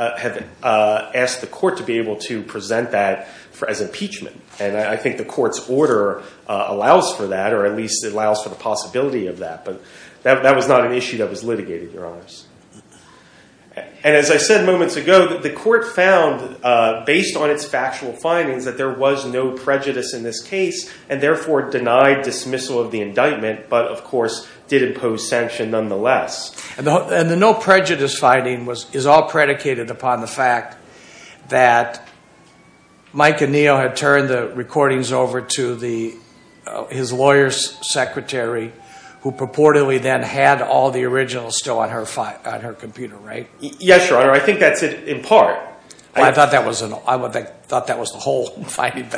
asked the court to be able to present that as impeachment. And I think the court's order allows for that, or at least it allows for the possibility of that. But that was not an issue that was litigated, Your Honors. And as I said moments ago, the court found, based on its factual findings, that there was no prejudice in this case, and therefore denied dismissal of the indictment, but of course did impose sanction nonetheless. And the no prejudice finding is all predicated upon the fact that Mike O'Neill had turned the recordings over to his lawyer's secretary, who purportedly then had all the originals still on her computer, right? Yes, Your Honor, I think that's in part. I thought that was the whole finding,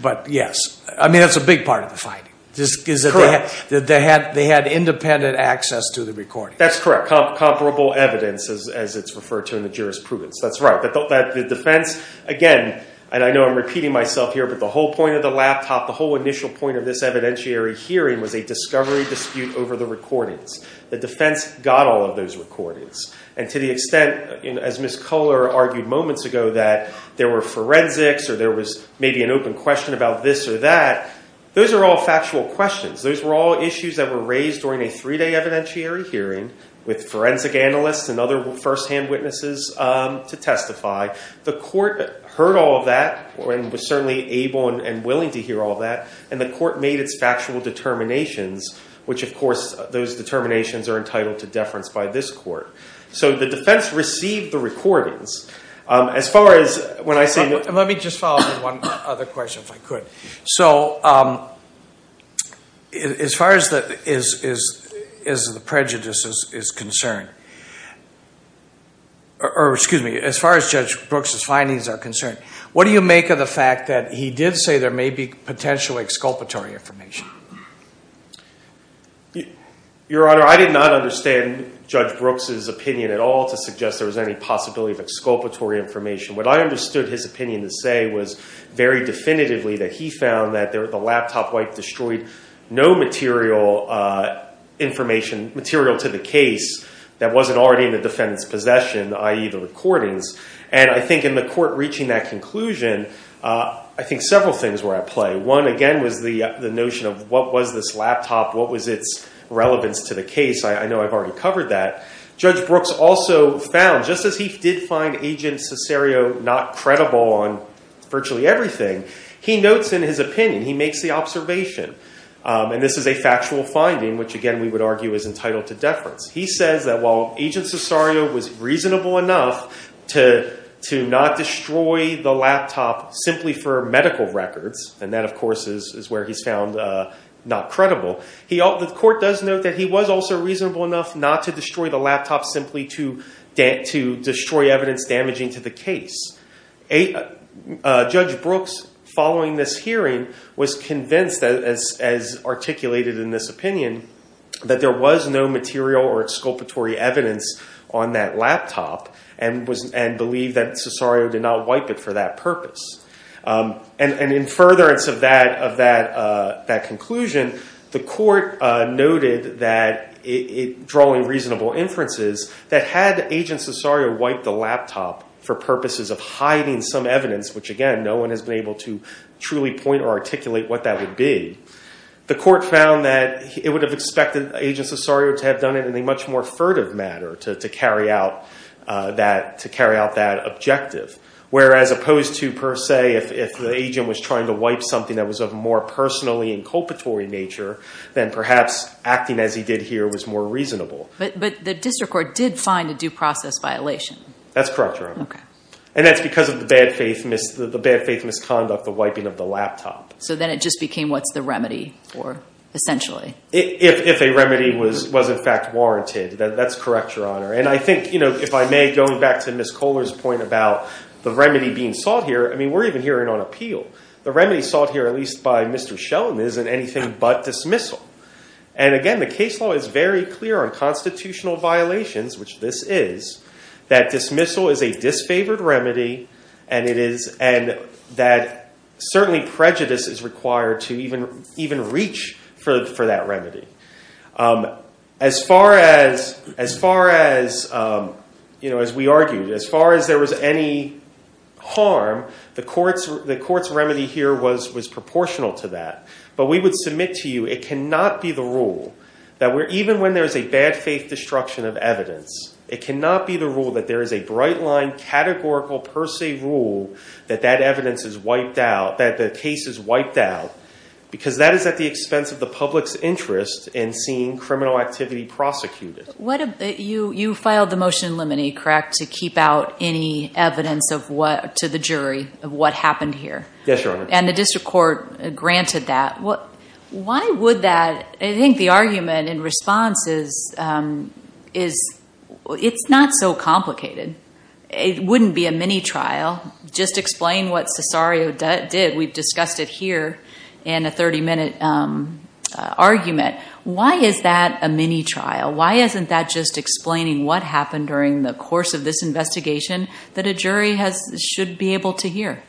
but yes. I mean, that's a big part of the finding, is that they had independent access to the recordings. That's correct, comparable evidence, as it's referred to in the jurisprudence, that's right. The defense, again, and I know I'm repeating myself here, but the whole point of the laptop, the whole initial point of this evidentiary hearing was a discovery dispute over the recordings. The defense got all of those recordings. And to the extent, as Ms. Culler argued moments ago, that there were forensics or there was maybe an open question about this or that, those are all factual questions. Those were all issues that were raised during a three-day evidentiary hearing with forensic analysts and other firsthand witnesses to testify. The court heard all of that and was certainly able and willing to hear all of that, and the court made its factual determinations, which, of course, those determinations are entitled to deference by this court. So the defense received the recordings. Let me just follow up with one other question, if I could. So as far as the prejudice is concerned, what do you make of the fact that he did say there may be potential exculpatory information? Your Honor, I did not understand Judge Brooks' opinion at all to suggest there was any possibility of exculpatory information. What I understood his opinion to say was very definitively that he found that the laptop wipe destroyed no material information, material to the case that wasn't already in the defendant's possession, i.e. the recordings. And I think in the court reaching that conclusion, I think several things were at play. One, again, was the notion of what was this laptop, what was its relevance to the case. I know I've already covered that. Judge Brooks also found, just as he did find Agent Cesario not credible on virtually everything, he notes in his opinion, he makes the observation, and this is a factual finding, which, again, we would argue is entitled to deference. He says that while Agent Cesario was reasonable enough to not destroy the laptop simply for medical records, and that, of course, is where he's found not credible, the court does note that he was also reasonable enough not to destroy the laptop simply to destroy evidence damaging to the case. Judge Brooks, following this hearing, was convinced, as articulated in this opinion, that there was no material or exculpatory evidence on that laptop and believed that Cesario did not wipe it for that purpose. And in furtherance of that conclusion, the court noted that, drawing reasonable inferences, that had Agent Cesario wiped the laptop for purposes of hiding some evidence, which, again, no one has been able to truly point or articulate what that would be, the court found that it would have expected Agent Cesario to have done it in a much more furtive manner to carry out that objective, whereas opposed to, per se, if the agent was trying to wipe something that was of a more personally inculpatory nature, then perhaps acting as he did here was more reasonable. But the district court did find a due process violation. That's correct, Your Honor. And that's because of the bad faith misconduct, the wiping of the laptop. So then it just became, what's the remedy for, essentially? If a remedy was in fact warranted. That's correct, Your Honor. And I think, if I may, going back to Ms. Kohler's point about the remedy being sought here, I mean, we're even hearing on appeal. The remedy sought here, at least by Mr. Sheldon, isn't anything but dismissal. And again, the case law is very clear on constitutional violations, which this is, that dismissal is a disfavored remedy and that certainly prejudice is required to even reach for that remedy. As we argued, as far as there was any harm, the court's remedy here was proportional to that. But we would submit to you, it cannot be the rule that even when there's a bad faith destruction of evidence, it cannot be the rule that there is a bright line, a categorical per se rule that that evidence is wiped out, that the case is wiped out, because that is at the expense of the public's interest in seeing criminal activity prosecuted. You filed the motion in limine, correct, to keep out any evidence to the jury of what happened here? Yes, Your Honor. And the district court granted that. Why would that? I think the argument in response is it's not so complicated. It wouldn't be a mini-trial. Just explain what Cesario did. We've discussed it here in a 30-minute argument. Why is that a mini-trial? Why isn't that just explaining what happened during the course of this investigation that a jury should be able to hear?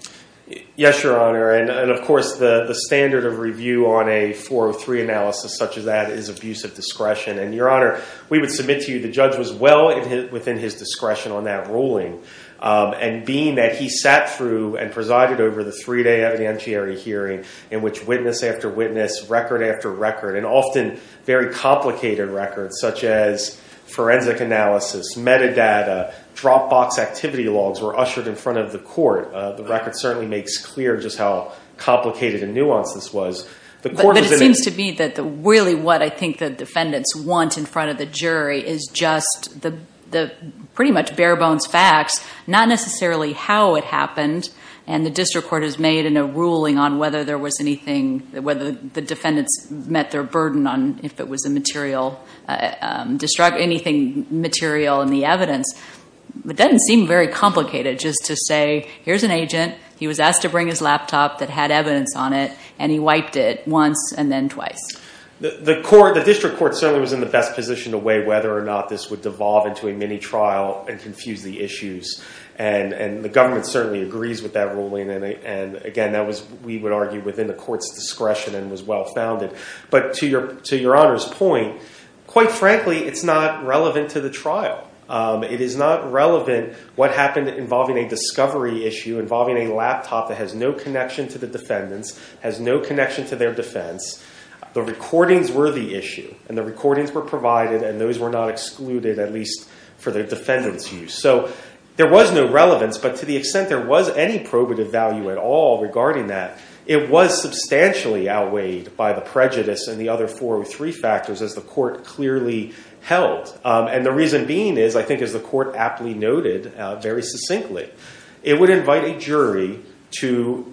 Yes, Your Honor. And, of course, the standard of review on a 403 analysis such as that is abuse of discretion. And, Your Honor, we would submit to you that the judge was well within his discretion on that ruling. And being that he sat through and presided over the three-day evidentiary hearing in which witness after witness, record after record, and often very complicated records such as forensic analysis, metadata, dropbox activity logs were ushered in front of the court. The record certainly makes clear just how complicated and nuanced this was. But it seems to me that really what I think the defendants want in front of the jury is just the pretty much bare-bones facts, not necessarily how it happened. And the district court has made a ruling on whether the defendants met their burden on if it was anything material in the evidence. It doesn't seem very complicated just to say, here's an agent. He was asked to bring his laptop that had evidence on it. And he wiped it once and then twice. The district court certainly was in the best position to weigh whether or not this would devolve into a mini trial and confuse the issues. And the government certainly agrees with that ruling. And again, we would argue within the court's discretion and was well-founded. But to Your Honor's point, quite frankly, it's not relevant to the trial. It is not relevant what happened involving a discovery issue, involving a laptop that has no connection to the defendants, has no connection to their defense. The recordings were the issue. And the recordings were provided. And those were not excluded, at least for the defendants' use. So there was no relevance. But to the extent there was any probative value at all regarding that, it was substantially outweighed by the prejudice and the other four or three factors as the court clearly held. And the reason being is, I think as the court aptly noted very succinctly, it would invite a jury to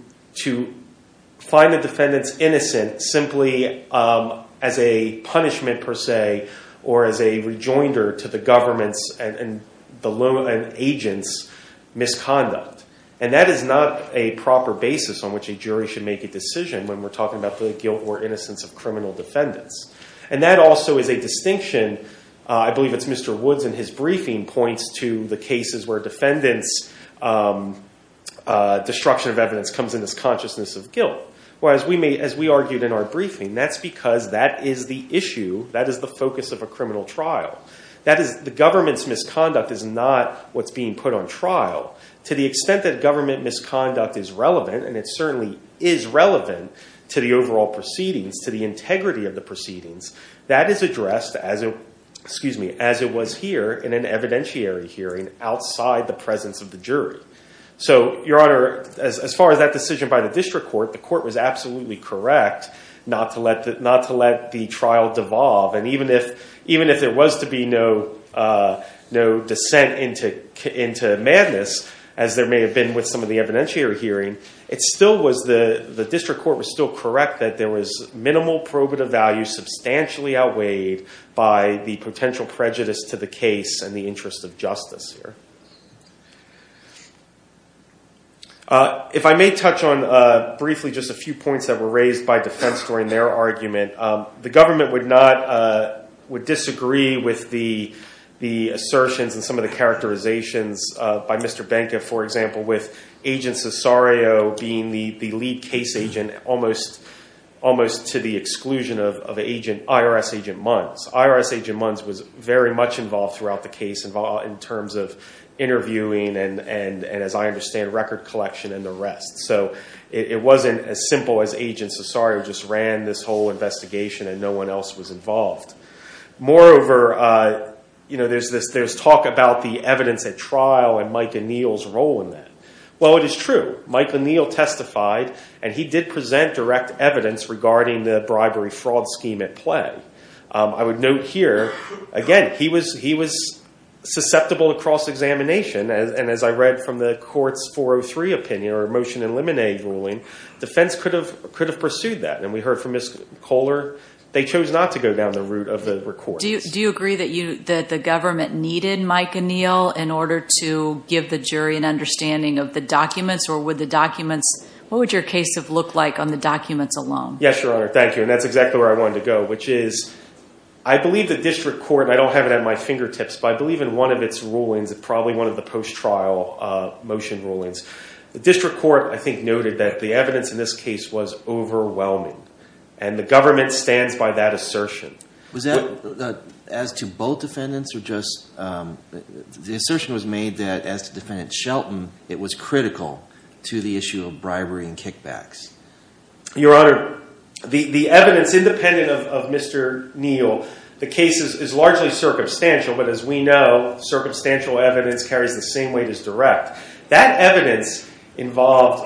find the defendants innocent simply as a punishment per se or as a rejoinder to the government's and the agents' misconduct. And that is not a proper basis on which a jury should make a decision when we're talking about the guilt or innocence of criminal defendants. And that also is a distinction. I believe it's Mr. Woods in his briefing points to the cases where defendants' destruction of evidence comes in this consciousness of guilt. Whereas as we argued in our briefing, that's because that is the issue. That is the focus of a criminal trial. The government's misconduct is not what's being put on trial. To the extent that government misconduct is relevant, and it certainly is relevant to the overall proceedings, to the integrity of the proceedings, that is addressed as it was here in an evidentiary hearing outside the presence of the jury. So, Your Honor, as far as that decision by the district court, the court was absolutely correct not to let the trial devolve. And even if there was to be no dissent into madness, as there may have been with some of the evidentiary hearing, the district court was still correct that there was potentially outweighed by the potential prejudice to the case and the interest of justice here. If I may touch on briefly just a few points that were raised by defense during their argument, the government would disagree with the assertions and some of the characterizations by Mr. Benka, for example, with Agent Cesario being the lead case agent, almost to the exclusion of IRS Agent Munns. IRS Agent Munns was very much involved throughout the case in terms of interviewing and, as I understand, record collection and the rest. So it wasn't as simple as Agent Cesario just ran this whole investigation and no one else was involved. Moreover, there's talk about the evidence at trial and Mike O'Neill's role in that. Well, it is true. Mike O'Neill testified, and he did present direct evidence regarding the bribery-fraud scheme at play. I would note here, again, he was susceptible to cross-examination, and as I read from the court's 403 opinion or motion in limine ruling, defense could have pursued that. And we heard from Ms. Kohler, they chose not to go down the route of the records. Do you agree that the government needed Mike O'Neill in order to give the jury an understanding of the documents or what would your case have looked like on the documents alone? Yes, Your Honor, thank you. And that's exactly where I wanted to go, which is I believe the district court, and I don't have it at my fingertips, but I believe in one of its rulings, probably one of the post-trial motion rulings, the district court, I think, noted that the evidence in this case was overwhelming, and the government stands by that assertion. Was that as to both defendants or just the assertion was made that as to defendant Shelton, it was critical to the issue of bribery and kickbacks? Your Honor, the evidence, independent of Mr. O'Neill, the case is largely circumstantial, but as we know, circumstantial evidence carries the same weight as direct. That evidence involved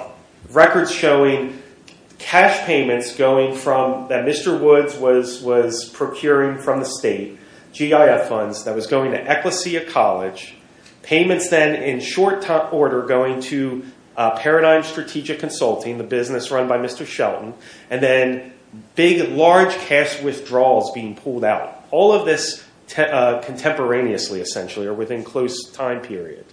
records showing cash payments that Mr. Woods was procuring from the state, GIF funds that was going to Ecclesia College, payments then in short order going to Paradigm Strategic Consulting, the business run by Mr. Shelton, and then big, large cash withdrawals being pulled out. All of this contemporaneously, essentially, or within close time period.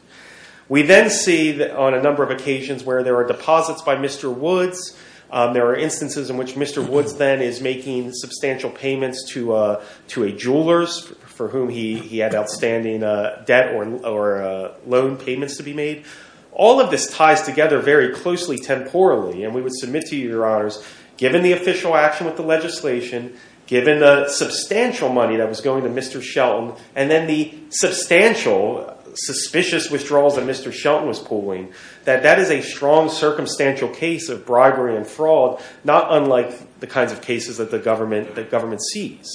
We then see on a number of occasions where there are deposits by Mr. Woods. There are instances in which Mr. Woods then is making substantial payments to a jeweler for whom he had outstanding debt or loan payments to be made. All of this ties together very closely temporally, and we would submit to you, Your Honors, given the official action with the legislation, given the substantial money that was going to Mr. Shelton, and then the substantial, suspicious withdrawals that Mr. Shelton was pulling, that that is a strong circumstantial case of bribery and fraud, not unlike the kinds of cases that the government sees,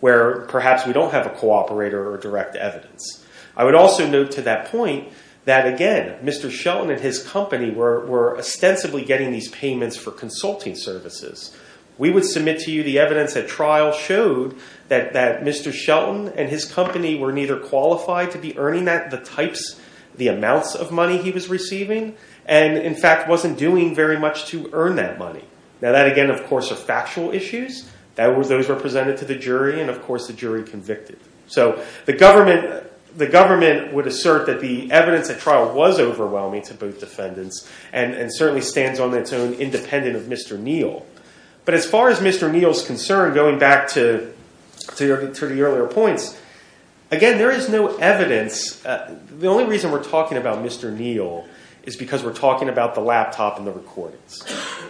where perhaps we don't have a cooperator or direct evidence. I would also note to that point that, again, Mr. Shelton and his company were ostensibly getting these payments for consulting services. We would submit to you the evidence that trial showed that Mr. Shelton and his company were neither qualified to be earning that, the types, the amounts of money he was receiving, and, in fact, wasn't doing very much to earn that money. Now that, again, of course, are factual issues. Those were presented to the jury, and, of course, the jury convicted them. So the government would assert that the evidence at trial was overwhelming to both defendants and certainly stands on its own independent of Mr. Neal. But as far as Mr. Neal's concern, going back to the earlier points, again, there is no evidence. The only reason we're talking about Mr. Neal is because we're talking about the laptop and the recordings.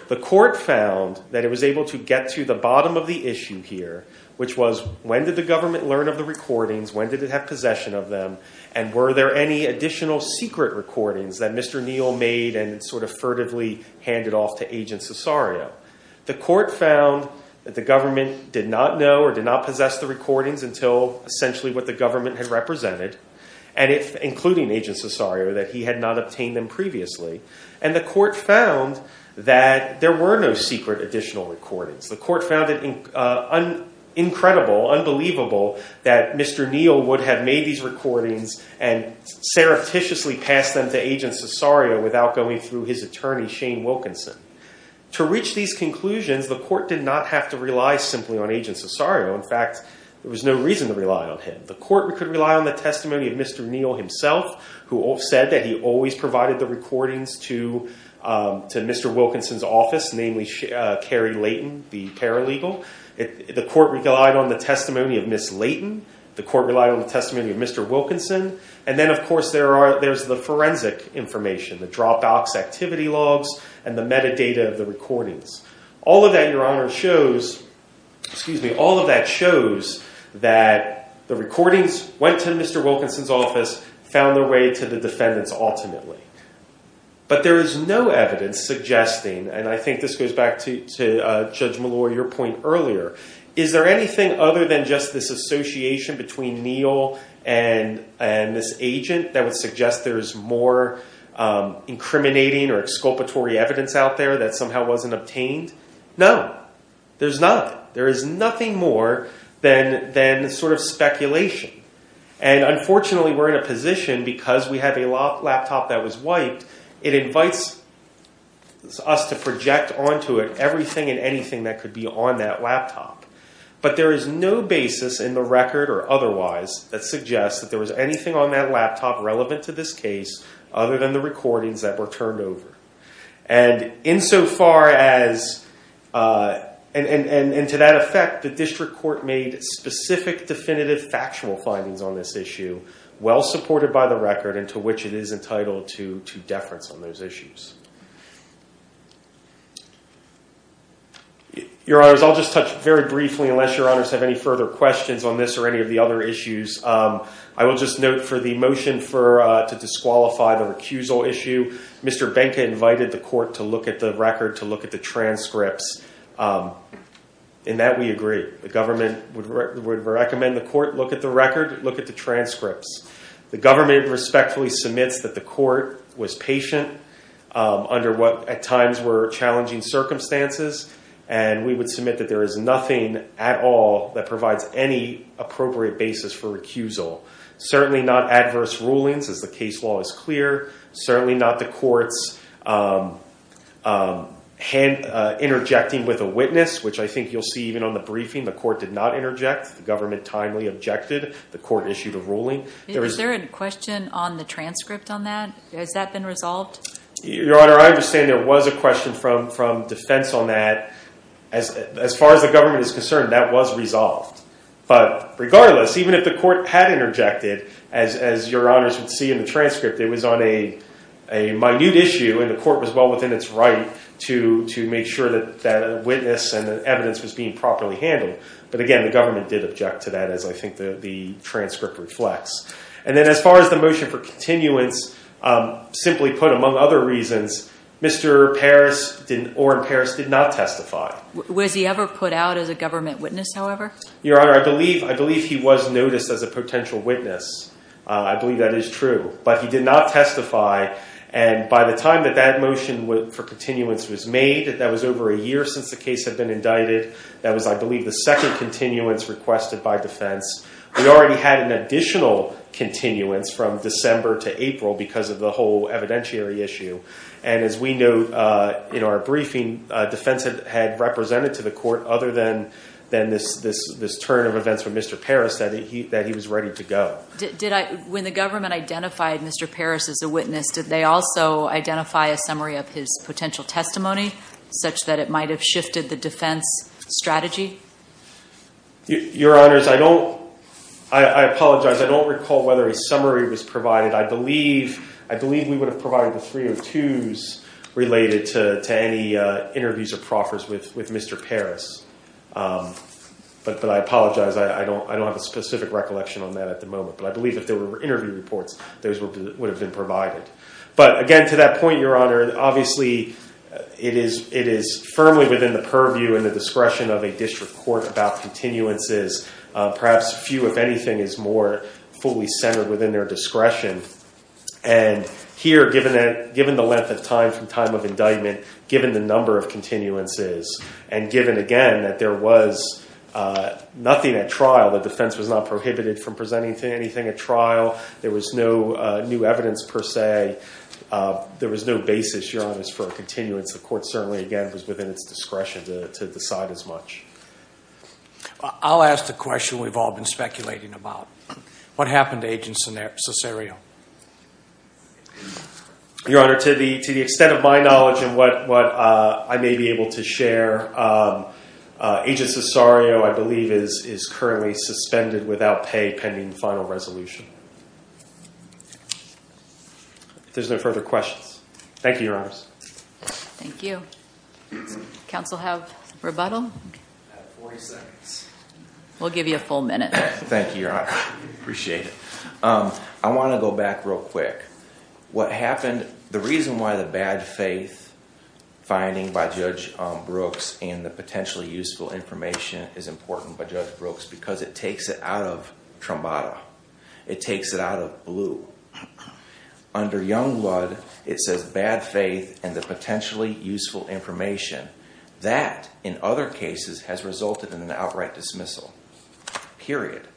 The court found that it was able to get to the bottom of the issue here, which was when did the government learn of the recordings, when did it have possession of them, and were there any additional secret recordings that Mr. Neal made and sort of furtively handed off to Agent Cesario. until essentially what the government had represented, including Agent Cesario, that he had not obtained them previously. And the court found that there were no secret additional recordings. The court found it incredible, unbelievable, that Mr. Neal would have made these recordings and surreptitiously passed them to Agent Cesario without going through his attorney, Shane Wilkinson. To reach these conclusions, the court did not have to rely simply on Agent Cesario. In fact, there was no reason to rely on him. The court could rely on the testimony of Mr. Neal himself, who said that he always provided the recordings to Mr. Wilkinson's office, namely Carrie Layton, the paralegal. The court relied on the testimony of Ms. Layton. The court relied on the testimony of Mr. Wilkinson. And then, of course, there's the forensic information, the dropbox activity logs and the metadata of the recordings. All of that, Your Honor, shows that the recordings went to Mr. Wilkinson's office, found their way to the defendants ultimately. But there is no evidence suggesting, and I think this goes back to Judge Malloy, your point earlier, is there anything other than just this association between Neal and this agent that would suggest there is more incriminating or exculpatory evidence out there that somehow wasn't obtained? No, there's none. There is nothing more than sort of speculation. And unfortunately, we're in a position, because we have a laptop that was wiped, it invites us to project onto it everything and anything that could be on that laptop. But there is no basis in the record or otherwise that suggests that there was anything on that laptop relevant to this case other than the recordings that were turned over. And insofar as, and to that effect, the district court made specific definitive factual findings on this issue, well supported by the record and to which it is entitled to deference on those issues. Your Honors, I'll just touch very briefly, unless Your Honors have any further questions on this or any of the other issues. I will just note for the motion to disqualify the recusal issue, Mr. Benka invited the court to look at the record, to look at the transcripts. In that, we agree. The government would recommend the court look at the record, look at the transcripts. The government respectfully submits that the court was patient under what at times were challenging circumstances. And we would submit that there is nothing at all that provides any appropriate basis for recusal. Certainly not adverse rulings as the case law is clear. Certainly not the court's interjecting with a witness, which I think you'll see even on the briefing. The court did not interject. The government timely objected. The court issued a ruling. Is there a question on the transcript on that? Has that been resolved? Your Honor, I understand there was a question from defense on that. As far as the government is concerned, that was resolved. But regardless, even if the court had interjected, as Your Honors would see in the transcript, it was on a minute issue, and the court was well within its right to make sure that a witness and evidence was being properly handled. But again, the government did object to that, as I think the transcript reflects. And then as far as the motion for continuance, simply put among other reasons, Mr. Oren Paris did not testify. Was he ever put out as a government witness, however? Your Honor, I believe he was noticed as a potential witness. I believe that is true. But he did not testify. And by the time that that motion for continuance was made, that was over a year since the case had been indicted. That was, I believe, the second continuance requested by defense. We already had an additional continuance from December to April because of the whole evidentiary issue. And as we know, in our briefing, defense had represented to the court, other than this turn of events when Mr. Paris said that he was ready to go. When the government identified Mr. Paris as a witness, did they also identify a summary of his potential testimony, such that it might have shifted the defense strategy? Your Honors, I apologize. I don't recall whether a summary was provided. I believe we would have provided the 302s related to any interviews or proffers with Mr. Paris. But I apologize. I don't have a specific recollection on that at the moment. But I believe if there were interview reports, those would have been provided. But again, to that point, Your Honor, obviously it is firmly within the purview and the discretion of a district court about continuances. Perhaps few, if anything, is more fully centered within their discretion. And here, given the length of time from time of indictment, given the number of continuances, and given, again, that there was nothing at trial, the defense was not prohibited from presenting anything at trial, there was no new evidence per se, there was no basis, Your Honors, for a continuance. The court certainly, again, was within its discretion to decide as much. I'll ask the question we've all been speculating about. What happened to Agent Cesario? Your Honor, to the extent of my knowledge and what I may be able to share, Agent Cesario, I believe, is currently suspended without pay pending final resolution. If there's no further questions. Thank you, Your Honors. Thank you. Council have rebuttal? I have 40 seconds. We'll give you a full minute. Thank you, Your Honor. I appreciate it. I want to go back real quick. What happened, the reason why the bad faith finding by Judge Brooks and the potentially useful information is important by Judge Brooks because it takes it out of trombata. It takes it out of blue. Under Youngblood, it says bad faith and the potentially useful information. That, in other cases, has resulted in an outright dismissal, period.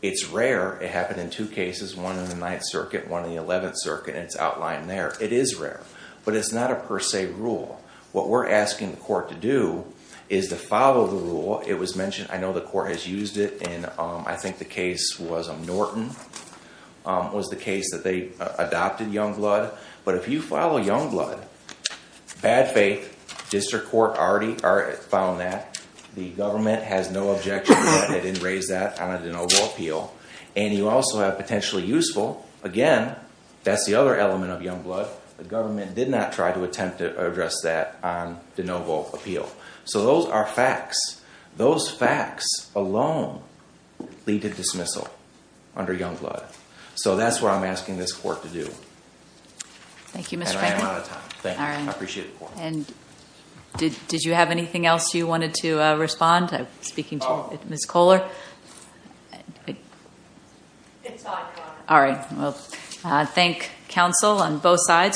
It's rare. It happened in two cases, one in the Ninth Circuit, one in the Eleventh Circuit. It's outlined there. It is rare. But it's not a per se rule. What we're asking the court to do is to follow the rule. It was mentioned. I know the court has used it in, I think, the case was Norton, was the case that they adopted Youngblood. But if you follow Youngblood, bad faith, district court already found that. The government has no objection. They didn't raise that on a de novo appeal. And you also have potentially useful. Again, that's the other element of Youngblood. The government did not try to attempt to address that on de novo appeal. So those are facts. Those facts alone lead to dismissal under Youngblood. So that's what I'm asking this court to do. Thank you, Mr. Franklin. And I am out of time. Thank you. I appreciate the court. Did you have anything else you wanted to respond? Speaking to Ms. Kohler. It's on. All right. Well, thank counsel on both sides.